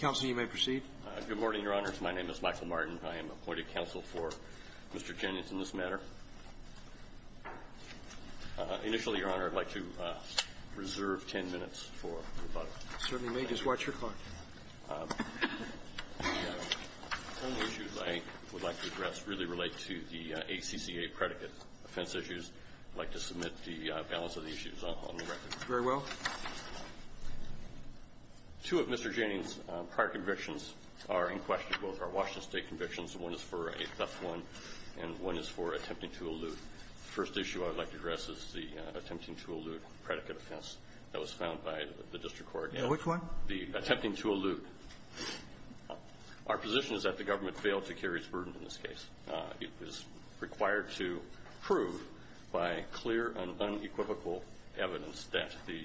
Good morning, Your Honors. My name is Michael Martin. I am appointed counsel for Mr. Jennings in this matter. Initially, Your Honor, I'd like to reserve 10 minutes for rebuttal. You certainly may. Just watch your clock. The only issues I would like to address really relate to the ACCA predicate offense issues. I'd like to submit the balance of the issues on the record. Very well. Two of Mr. Jennings' prior convictions are in question. Both are Washington State convictions. One is for a theft one, and one is for attempting to elude. The first issue I would like to address is the attempting to elude predicate offense that was found by the District Court. Which one? The attempting to elude. Our position is that the government failed to carry its burden in this case. It was required to prove by clear and unequivocal evidence that the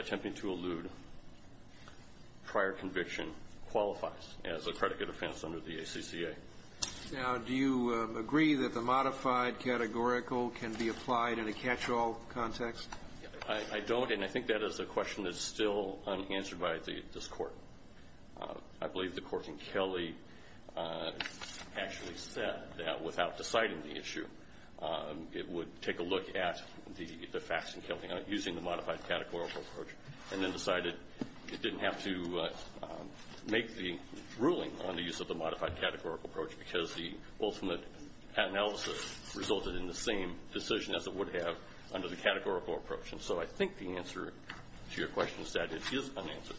attempting to elude prior conviction qualifies as a predicate offense under the ACCA. Now, do you agree that the modified categorical can be applied in a catch-all context? I don't, and I think that is a question that is still unanswered by this Court. I believe the Court in Kelly actually said that without deciding the issue, it would take a look at the facts in Kelly using the modified categorical approach, and then decided it didn't have to make the ruling on the use of the modified categorical approach because the ultimate analysis resulted in the same decision as it would have under the categorical approach. And so I think the answer to your question is that it is unanswered.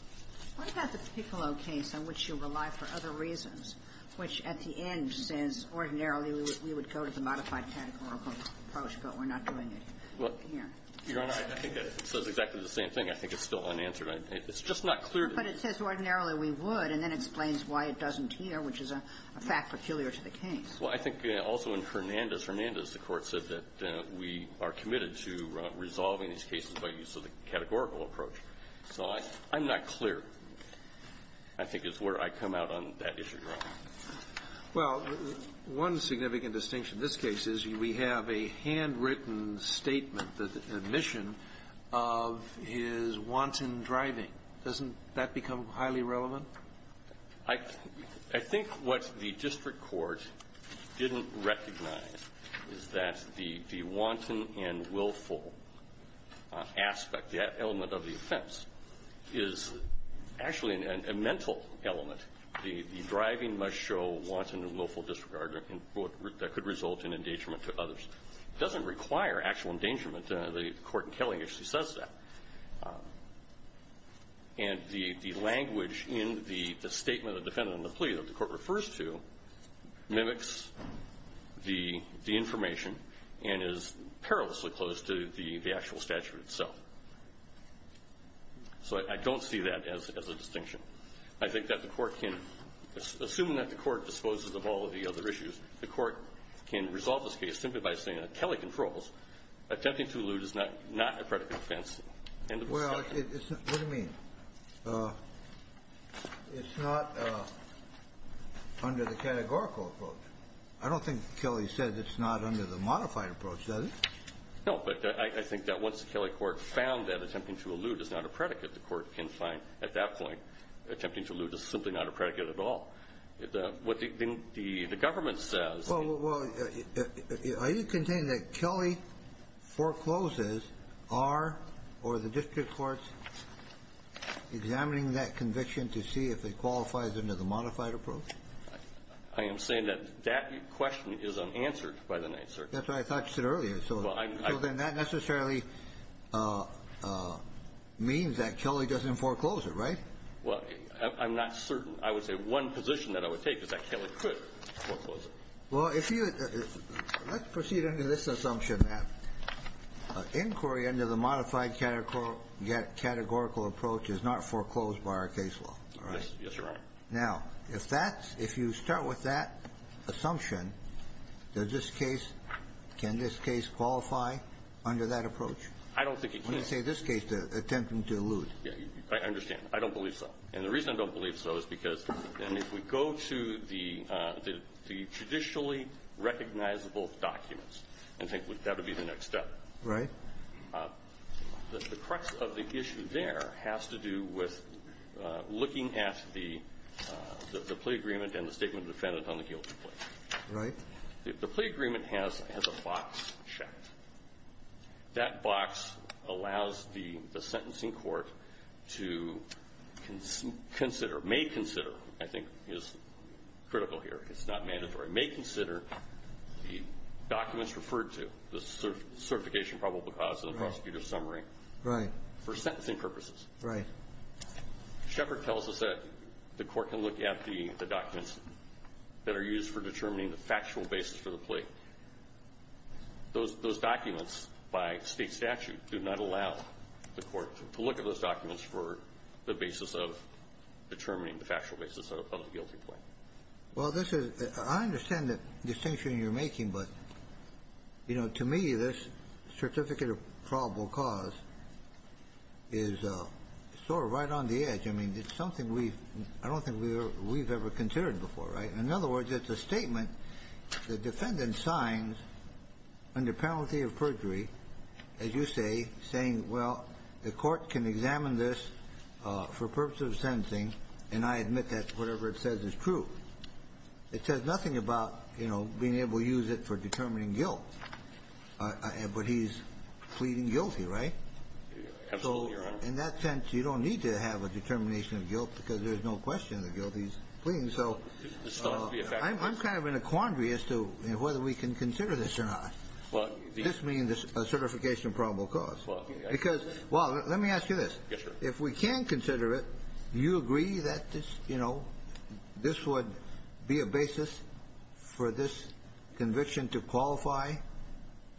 What about the Piccolo case on which you rely for other reasons, which at the end says ordinarily we would go to the modified categorical approach, but we're not doing it here? Your Honor, I think it says exactly the same thing. I think it's still unanswered. It's just not clear to me. But it says ordinarily we would, and then explains why it doesn't here, which is a fact peculiar to the case. Well, I think also in Hernandez, Hernandez, the Court said that we are committed to resolving these cases by use of the categorical approach. So I'm not clear, I think, is where I come out on that issue, Your Honor. Well, one significant distinction in this case is we have a handwritten statement that the admission of his wanton driving, doesn't that become highly relevant? I think what the district court didn't recognize is that the wanton and willful aspect, that element of the offense, is actually a mental element. The driving must show wanton and willful disregard that could result in endangerment to others. It doesn't require actual endangerment. The court in Kelling actually says that. And the language in the statement of the defendant in the plea that the court refers to mimics the information and is perilously close to the actual statute itself. So I don't see that as a distinction. I think that the Court can assume that the Court disposes of all of the other issues. The Court can resolve this case simply by saying that Kelley controls. Attempting to elude is not a predicate offense. End of discussion. What do you mean? It's not under the categorical approach. I don't think Kelley said it's not under the modified approach, does it? No. But I think that once the Kelley court found that attempting to elude is not a predicate, the court can find at that point attempting to elude is simply not a predicate at all. What the government says. Well, are you containing that Kelley forecloses are or the district courts examining that conviction to see if it qualifies under the modified approach? I am saying that that question is unanswered by the Ninth Circuit. That's what I thought you said earlier. So then that necessarily means that Kelley doesn't foreclose it, right? Well, I'm not certain. I would say one position that I would take is that Kelley could foreclose it. Well, if you let's proceed under this assumption, that inquiry under the modified categorical approach is not foreclosed by our case law, all right? Yes, Your Honor. Now, if that's, if you start with that assumption, does this case, can this case qualify under that approach? I don't think it can. When you say this case, attempting to elude. I understand. I don't believe so. And the reason I don't believe so is because if we go to the traditionally recognizable documents, I think that would be the next step. Right. The crux of the issue there has to do with looking at the plea agreement and the statement defended on the guilty plea. Right. The plea agreement has a box checked. That box allows the sentencing court to consider, may consider, I think is critical here. It's not mandatory. May consider the documents referred to, the certification probable cause and the prosecutor's summary. Right. For sentencing purposes. Right. Shepherd tells us that the court can look at the documents that are used for determining the factual basis for the plea. Those documents by state statute do not allow the court to look at those documents for the basis of determining the factual basis of the guilty plea. Well, this is, I understand the distinction you're making, but, you know, to me, this certificate of probable cause is sort of right on the edge. I mean, it's something we, I don't think we've ever considered before. Right. In other words, it's a statement the defendant signs under penalty of perjury, as you say, saying, well, the court can examine this for purposes of sentencing, and I admit that whatever it says is true. It says nothing about, you know, being able to use it for determining guilt. But he's pleading guilty, right? Absolutely, Your Honor. So in that sense, you don't need to have a determination of guilt because there's no question the guilty is pleading. So I'm kind of in a quandary as to whether we can consider this or not. This means a certification of probable cause. Because, well, let me ask you this. Yes, sir. If we can consider it, do you agree that this, you know, this would be a basis for this conviction to qualify?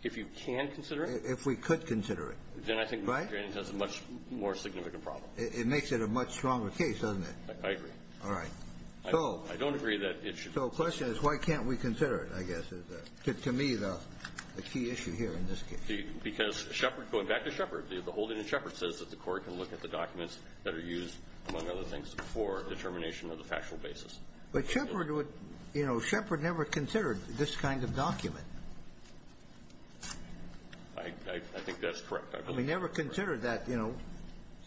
If you can consider it? If we could consider it. Then I think Mr. Grannon has a much more significant problem. It makes it a much stronger case, doesn't it? I agree. All right. I don't agree that it should be considered. So the question is why can't we consider it, I guess, is to me the key issue here in this case. Because Shepard, going back to Shepard, the holding in Shepard says that the court can look at the documents that are used, among other things, for determination of the factual basis. But Shepard would, you know, Shepard never considered this kind of document. I think that's correct. I believe that's correct. He never considered that, you know,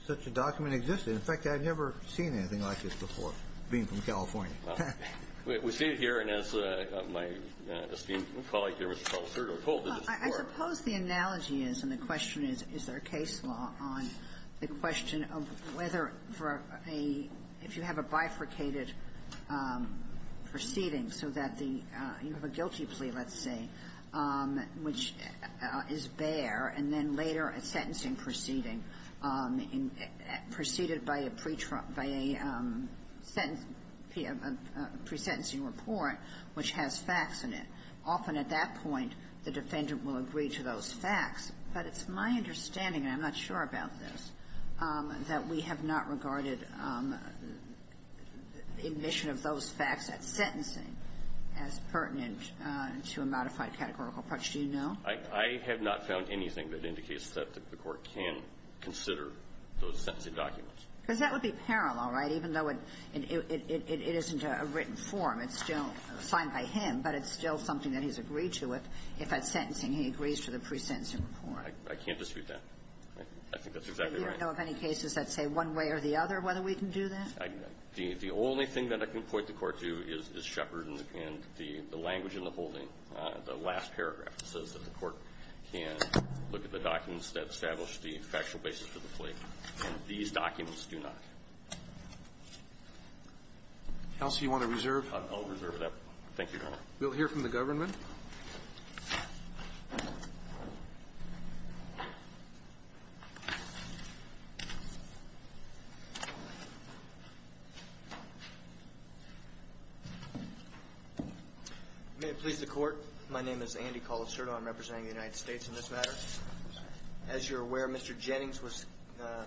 such a document existed. In fact, I've never seen anything like this before, being from California. We see it here. And as my esteemed colleague here, Mr. Palazzurro, told us before. I suppose the analogy is, and the question is, is there a case law on the question of whether for a – if you have a bifurcated proceeding so that the – you have a guilty plea, let's say, which is bare, and then later a sentencing proceeding preceded by a pre-trial – by a sentence – pre-sentencing report which has facts in it. Often at that point, the defendant will agree to those facts. But it's my understanding, and I'm not sure about this, that we have not regarded admission of those facts at sentencing as pertinent to a modified categorical approach. Do you know? I have not found anything that indicates that the Court can consider those sentencing documents. Because that would be parallel, right? Even though it isn't a written form. It's still signed by him, but it's still something that he's agreed to if at sentencing he agrees to the pre-sentencing report. I can't dispute that. I think that's exactly right. Do you know of any cases that say one way or the other whether we can do that? The only thing that I can point the Court to is Shepard and the language in the holding, the last paragraph that says that the Court can look at the documents that establish the factual basis for the plea, and these documents do not. Else you want to reserve? I'll reserve it. Thank you, Your Honor. We'll hear from the government. May it please the Court. My name is Andy Colacerto. I'm representing the United States in this matter. As you're aware, Mr. Jennings was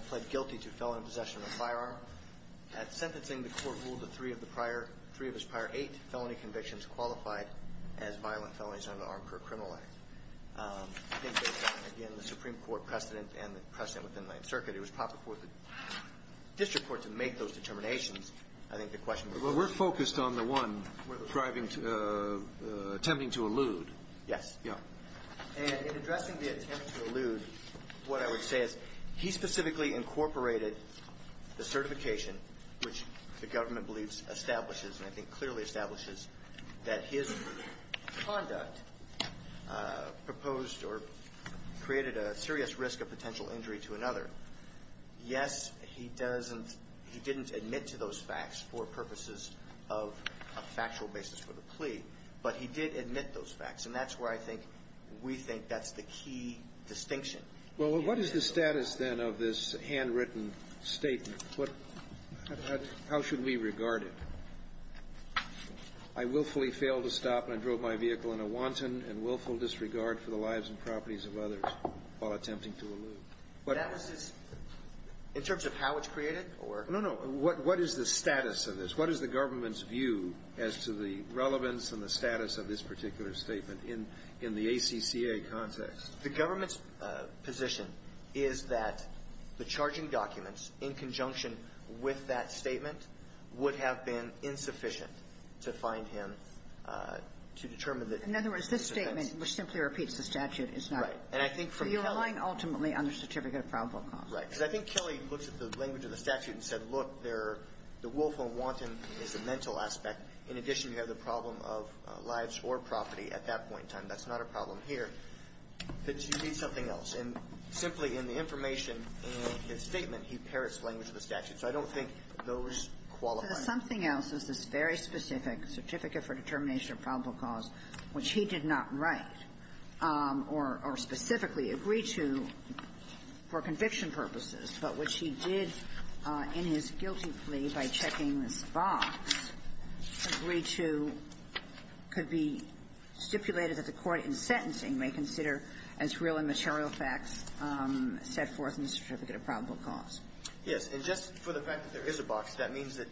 pled guilty to felony possession of a firearm. At sentencing, the Court ruled that three of his prior eight felony convictions qualified as violent felonies under the Armed Career Criminal Act. I think based on, again, the Supreme Court precedent and the precedent within the Ninth Circuit, it was proper for the district court to make those determinations. I think the question was whether or not. We're focused on the one driving to the attempting to elude. Yes. Yeah. And in addressing the attempt to elude, what I would say is he specifically incorporated the certification, which the government believes establishes and I think clearly establishes that his conduct proposed or created a serious risk of potential injury to another. Yes, he doesn't he didn't admit to those facts for purposes of a factual basis for the plea, but he did admit those facts. And that's where I think we think that's the key distinction. Well, what is the status, then, of this handwritten statement? How should we regard it? I willfully failed to stop when I drove my vehicle in a wanton and willful disregard for the lives and properties of others while attempting to elude. That was his – in terms of how it's created? No, no. What is the status of this? What is the government's view as to the relevance and the status of this particular statement in the ACCA context? The government's position is that the charging documents in conjunction with that to find him to determine that – In other words, this statement, which simply repeats the statute, is not – Right. And I think from Kelly – So you're relying ultimately on the certificate of probable cause. Right. Because I think Kelly looks at the language of the statute and said, look, there – the willful and wanton is the mental aspect. In addition, you have the problem of lives or property at that point in time. That's not a problem here. But you need something else. And simply in the information in his statement, he parrots the language of the statute. So I don't think those qualify. Well, there's something else. There's this very specific certificate for determination of probable cause, which he did not write or specifically agree to for conviction purposes, but which he did in his guilty plea by checking this box, agree to – could be stipulated that the court in sentencing may consider as real and material facts set forth in the certificate of probable cause. Yes. And just for the fact that there is a box, that means that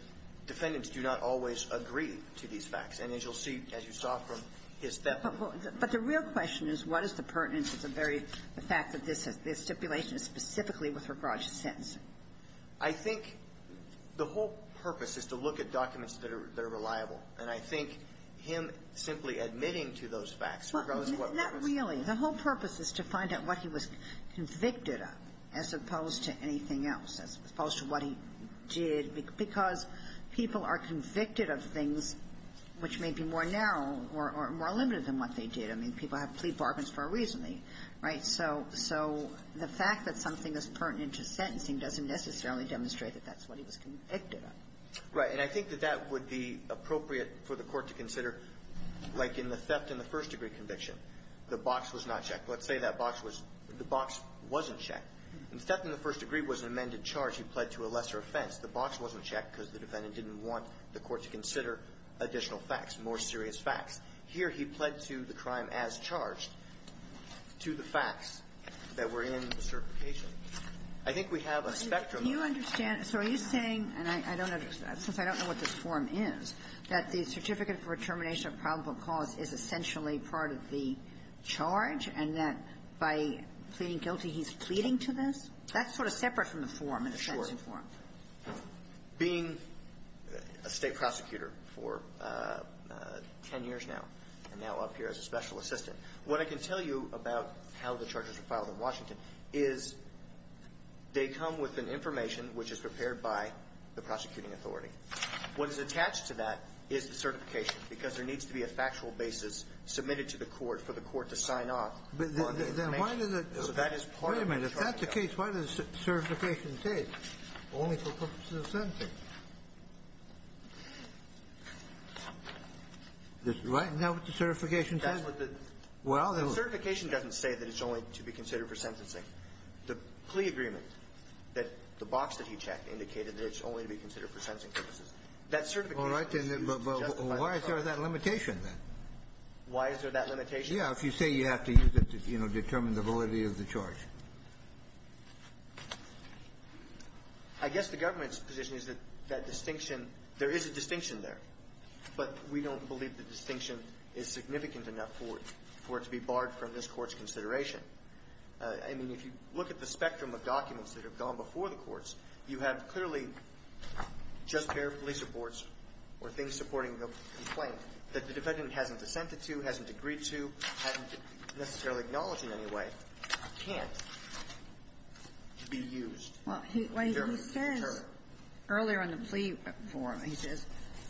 defendants do not always agree to these facts. And as you'll see, as you saw from his – But the real question is, what is the pertinence of the very – the fact that this stipulation is specifically with regard to sentencing? I think the whole purpose is to look at documents that are – that are reliable. And I think him simply admitting to those facts, regardless of what purpose – Well, not really. The whole purpose is to find out what he was convicted of, as opposed to anything else, as opposed to what he did, because people are convicted of things which may be more narrow or more limited than what they did. I mean, people have plea bargains for a reason, right? So the fact that something is pertinent to sentencing doesn't necessarily demonstrate that that's what he was convicted of. Right. And I think that that would be appropriate for the court to consider, like in the first-degree conviction. The box was not checked. Let's say that box was – the box wasn't checked. Instead, in the first-degree, it was an amended charge. He pled to a lesser offense. The box wasn't checked because the defendant didn't want the court to consider additional facts, more serious facts. Here, he pled to the crime as charged to the facts that were in the certification. I think we have a spectrum of – Do you understand – so are you saying – and I don't understand, since I don't know what this form is, that the certificate for termination of probable cause is essentially part of the charge, and that by pleading guilty, he's pleading to this? That's sort of separate from the form, the sentencing form. Sure. Being a State prosecutor for ten years now, and now up here as a special assistant, what I can tell you about how the charges are filed in Washington is they come with an information which is prepared by the prosecuting authority. What is attached to that is the certification, because there needs to be a factual basis submitted to the court for the court to sign off on the information. So that is part of the charge. Wait a minute. If that's the case, why does the certification say only for purposes of sentencing? Right? Is that what the certification says? That's what the – Well, the – The certification doesn't say that it's only to be considered for sentencing. The plea agreement that the box that he checked indicated that it's only to be considered for sentencing purposes. That certification is used to justify the charge. All right. But why is there that limitation, then? Why is there that limitation? Yeah. If you say you have to use it to, you know, determine the validity of the charge. I guess the government's position is that that distinction – there is a distinction there, but we don't believe the distinction is significant enough for it to be barred from this Court's consideration. I mean, if you look at the spectrum of documents that have gone before the courts, you have clearly just a pair of police reports or things supporting the complaint that the defendant hasn't dissented to, hasn't agreed to, hasn't necessarily acknowledged in any way, can't be used to determine the deterrent. Well, he says earlier in the plea forum, he says,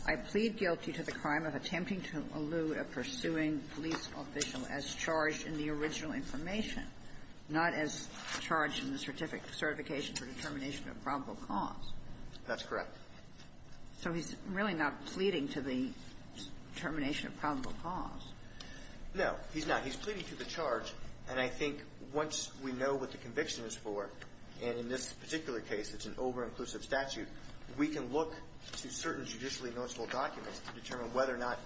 I plead guilty to the crime of attempting to allude a pursuing police official as charged in the original information, not as charged in the certification for determination of probable cause. That's correct. So he's really not pleading to the determination of probable cause. No. He's not. He's pleading to the charge. And I think once we know what the conviction is for, and in this particular case it's an over-inclusive statute, we can look to certain judicially noticeable documents to determine whether or not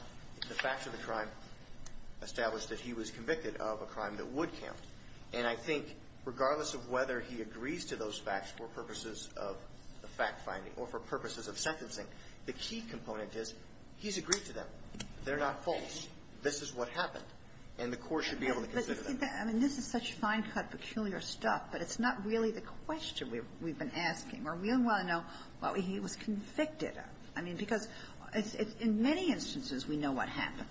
the facts of the crime establish that he was convicted of a crime that would count. And I think regardless of whether he agrees to those facts for purposes of the fact finding or for purposes of sentencing, the key component is he's agreed to them. They're not false. This is what happened. And the Court should be able to consider that. I mean, this is such fine-cut, peculiar stuff, but it's not really the question we've been asking. Are we going to want to know what he was convicted of? I mean, because in many instances we know what happened.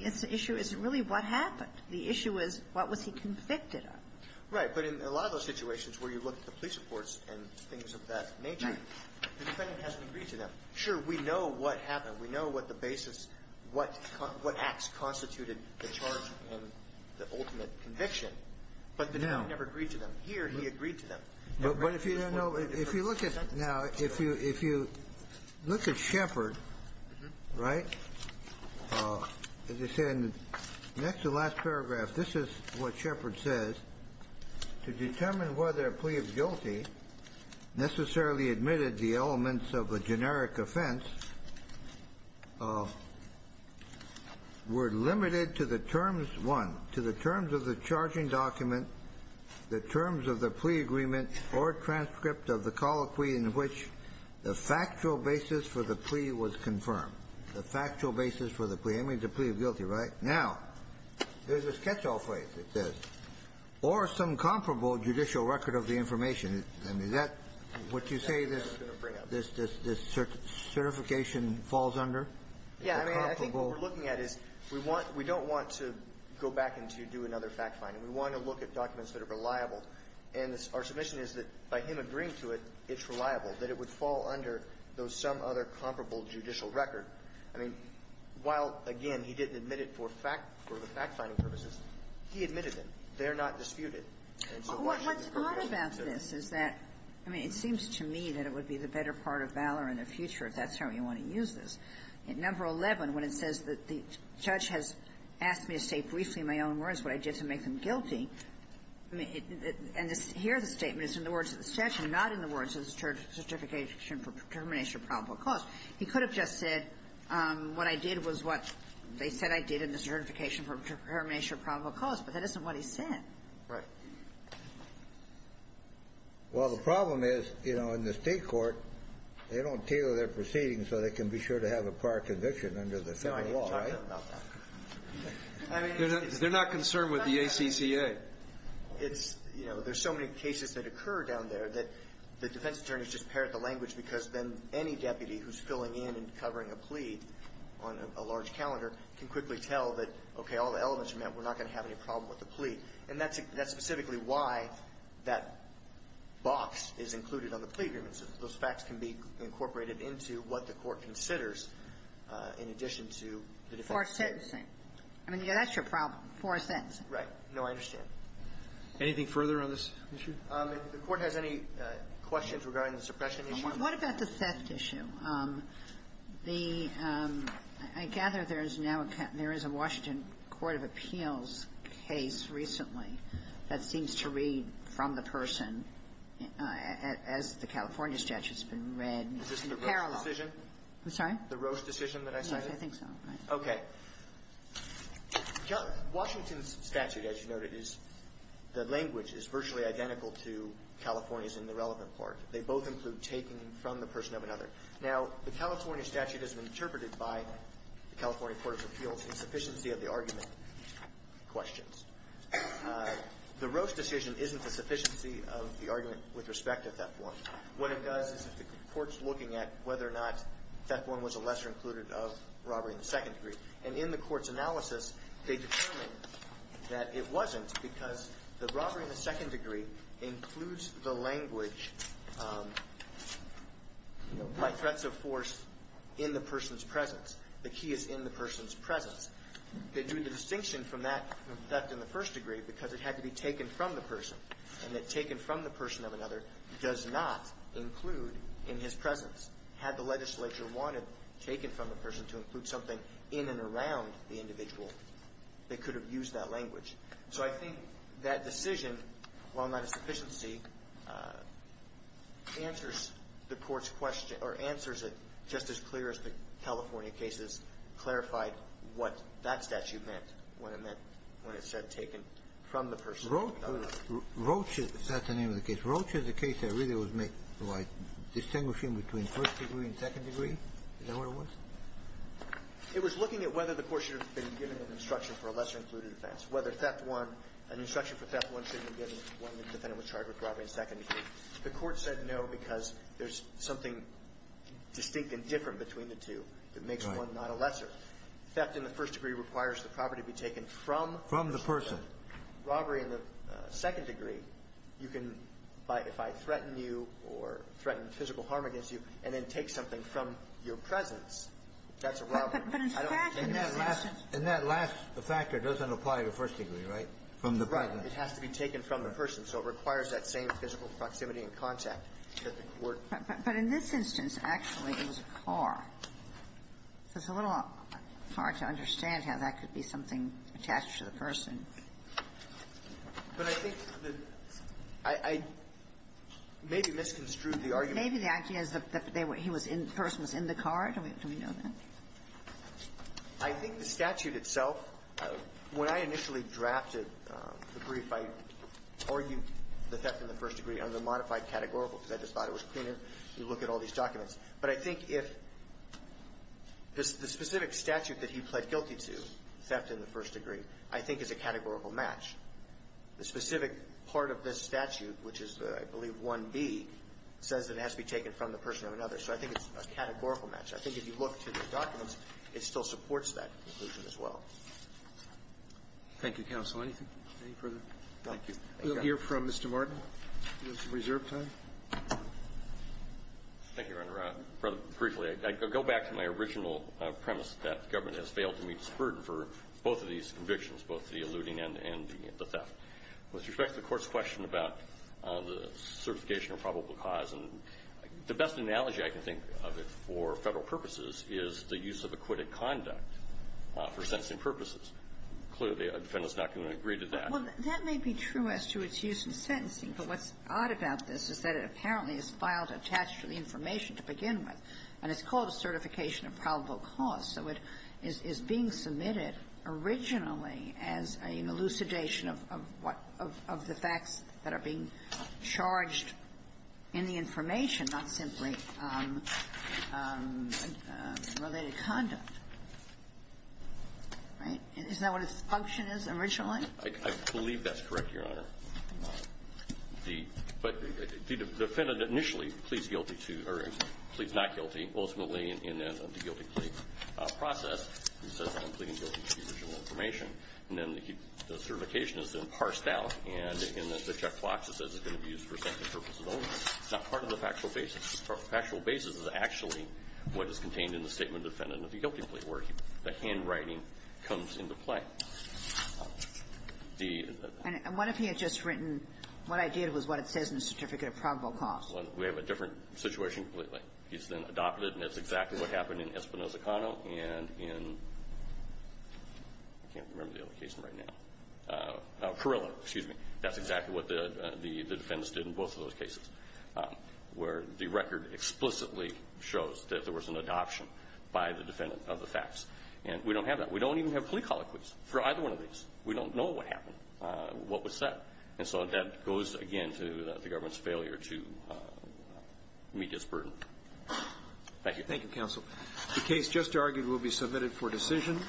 The issue isn't really what happened. The issue is what was he convicted of. Right. But in a lot of those situations where you look at the police reports and things of that nature, the defendant hasn't agreed to them. Sure, we know what happened. We know what the basis, what acts constituted the charge and the ultimate conviction. But the defendant never agreed to them. Here, he agreed to them. But if you don't know, if you look at now, if you look at Shepard, right, as I said in the next to last paragraph, this is what Shepard says. To determine whether a plea of guilty necessarily admitted the elements of a generic offense were limited to the terms, one, to the terms of the charging document, two, the terms of the plea agreement or transcript of the colloquy in which the factual basis for the plea was confirmed. The factual basis for the plea. I mean, the plea of guilty, right? Now, there's a catch-all phrase that says, or some comparable judicial record of the information. I mean, is that what you say this certification falls under? Yeah. I mean, I think what we're looking at is we don't want to go back and to do another fact-finding. We want to look at documents that are reliable. And our submission is that by him agreeing to it, it's reliable, that it would fall under those some other comparable judicial record. I mean, while, again, he didn't admit it for fact or for fact-finding purposes, he admitted them. And so why shouldn't the court be able to do that? What's odd about this is that, I mean, it seems to me that it would be the better part of valor in the future if that's how you want to use this. Number 11, when it says that the judge has asked me to say briefly in my own words what I did to make them guilty, I mean, and here the statement is in the words of the statute, not in the words of the certification for determination of probable cause. He could have just said what I did was what they said I did in the certification for determination of probable cause, but that isn't what he said. Right. Well, the problem is, you know, in the State court, they don't tailor their proceedings so they can be sure to have a prior conviction under the Federal law, right? They're not concerned with the ACCA. It's, you know, there's so many cases that occur down there that the defense attorneys just parrot the language because then any deputy who's filling in and covering a plea on a large calendar can quickly tell that, okay, all the elements are met, we're not going to have any problem with the plea. And that's specifically why that box is included on the plea agreement, so that those facts can be incorporated into what the court considers in addition to the defense statement. For sentencing. I mean, that's your problem, for a sentencing. Right. No, I understand. Anything further on this issue? If the Court has any questions regarding the suppression issue. What about the theft issue? The – I gather there is now a – there is a Washington court of appeals case recently that seems to read from the person as the California statute's been read in parallel. Is this the Roche decision? The Roche decision that I cited? I think so. Okay. Washington's statute, as you noted, is – the language is virtually identical to California's in the relevant part. They both include taking from the person of another. Now, the California statute has been interpreted by the California court of appeals in sufficiency of the argument questions. The Roche decision isn't a sufficiency of the argument with respect to theft one. What it does is if the court's looking at whether or not theft one was a lesser included of robbery in the second degree. And in the court's analysis, they determined that it wasn't because the robbery in the second degree includes the language by threats of force in the person's presence. The key is in the person's presence. They drew the distinction from that in the first degree because it had to be taken from the person. And that taken from the person of another does not include in his presence. Had the legislature wanted taken from the person to include something in and around the individual, they could have used that language. So I think that decision, while not a sufficiency, answers the court's question or answers it just as clear as the California cases clarified what that statute meant when it meant – when it said taken from the person of another. Roche, if that's the name of the case, Roche is a case that really was made by distinguishing between first degree and second degree? Is that what it was? It was looking at whether the court should have been given an instruction for a lesser included offense, whether theft one – an instruction for theft one should have been given when the defendant was charged with robbery in second degree. The court said no because there's something distinct and different between the two that makes one not a lesser. Theft in the first degree requires the property to be taken from the person. From the person. So robbery in the second degree, you can, by – if I threaten you or threaten physical harm against you and then take something from your presence, that's a robbery. But in fact, in that last – In that last – the factor doesn't apply to first degree, right? From the person. Right. It has to be taken from the person. So it requires that same physical proximity and contact that the court – But in this instance, actually, it was a car. So it's a little hard to understand how that could be something attached to the person. But I think that I – I maybe misconstrued the argument. Maybe the idea is that they were – he was in – the person was in the car. Do we – do we know that? I think the statute itself, when I initially drafted the brief, I argued the theft in the first degree under the modified categorical because I just thought it was cleaner if you look at all these documents. But I think if – the specific statute that he pled guilty to, theft in the first degree, I think is a categorical match. The specific part of this statute, which is, I believe, 1B, says that it has to be taken from the person or another. So I think it's a categorical match. I think if you look to the documents, it still supports that conclusion as well. Thank you, counsel. Anything further? Thank you. We'll hear from Mr. Martin. We have some reserve time. Thank you, Your Honor. Rather briefly, I go back to my original premise that government has failed to meet its burden for both of these convictions, both the eluding and the theft. With respect to the Court's question about the certification of probable cause, the best analogy I can think of for Federal purposes is the use of acquitted conduct for sentencing purposes. Clearly, a defendant is not going to agree to that. Well, that may be true as to its use in sentencing, but what's odd about this is that it apparently is filed attached to the information to begin with, and it's called a certification of probable cause. So it is being submitted originally as an elucidation of what of the facts that are being charged in the information, not simply related conduct. Right? Is that what its function is originally? I believe that's correct, Your Honor. But the defendant initially pleads guilty to or pleads not guilty ultimately in the guilty plea process. He says that I'm pleading guilty to the original information. And then the certification is then parsed out, and in the checkbox it says it's going to be used for sentencing purposes only. It's not part of the factual basis. The factual basis is actually what is contained in the statement of the defendant of the guilty plea. That's where the handwriting comes into play. The ---- And what if he had just written, what I did was what it says in the certificate of probable cause? Well, we have a different situation completely. He's been adopted, and that's exactly what happened in Espinoza-Cano and in ---- I can't remember the other case right now. Parilla, excuse me. shows that there was an adoption by the defendant of the facts. And we don't have that. We don't even have plea colloquies for either one of these. We don't know what happened, what was said. And so that goes again to the government's failure to meet its burden. Thank you. Thank you, counsel. The case just argued will be submitted for decision.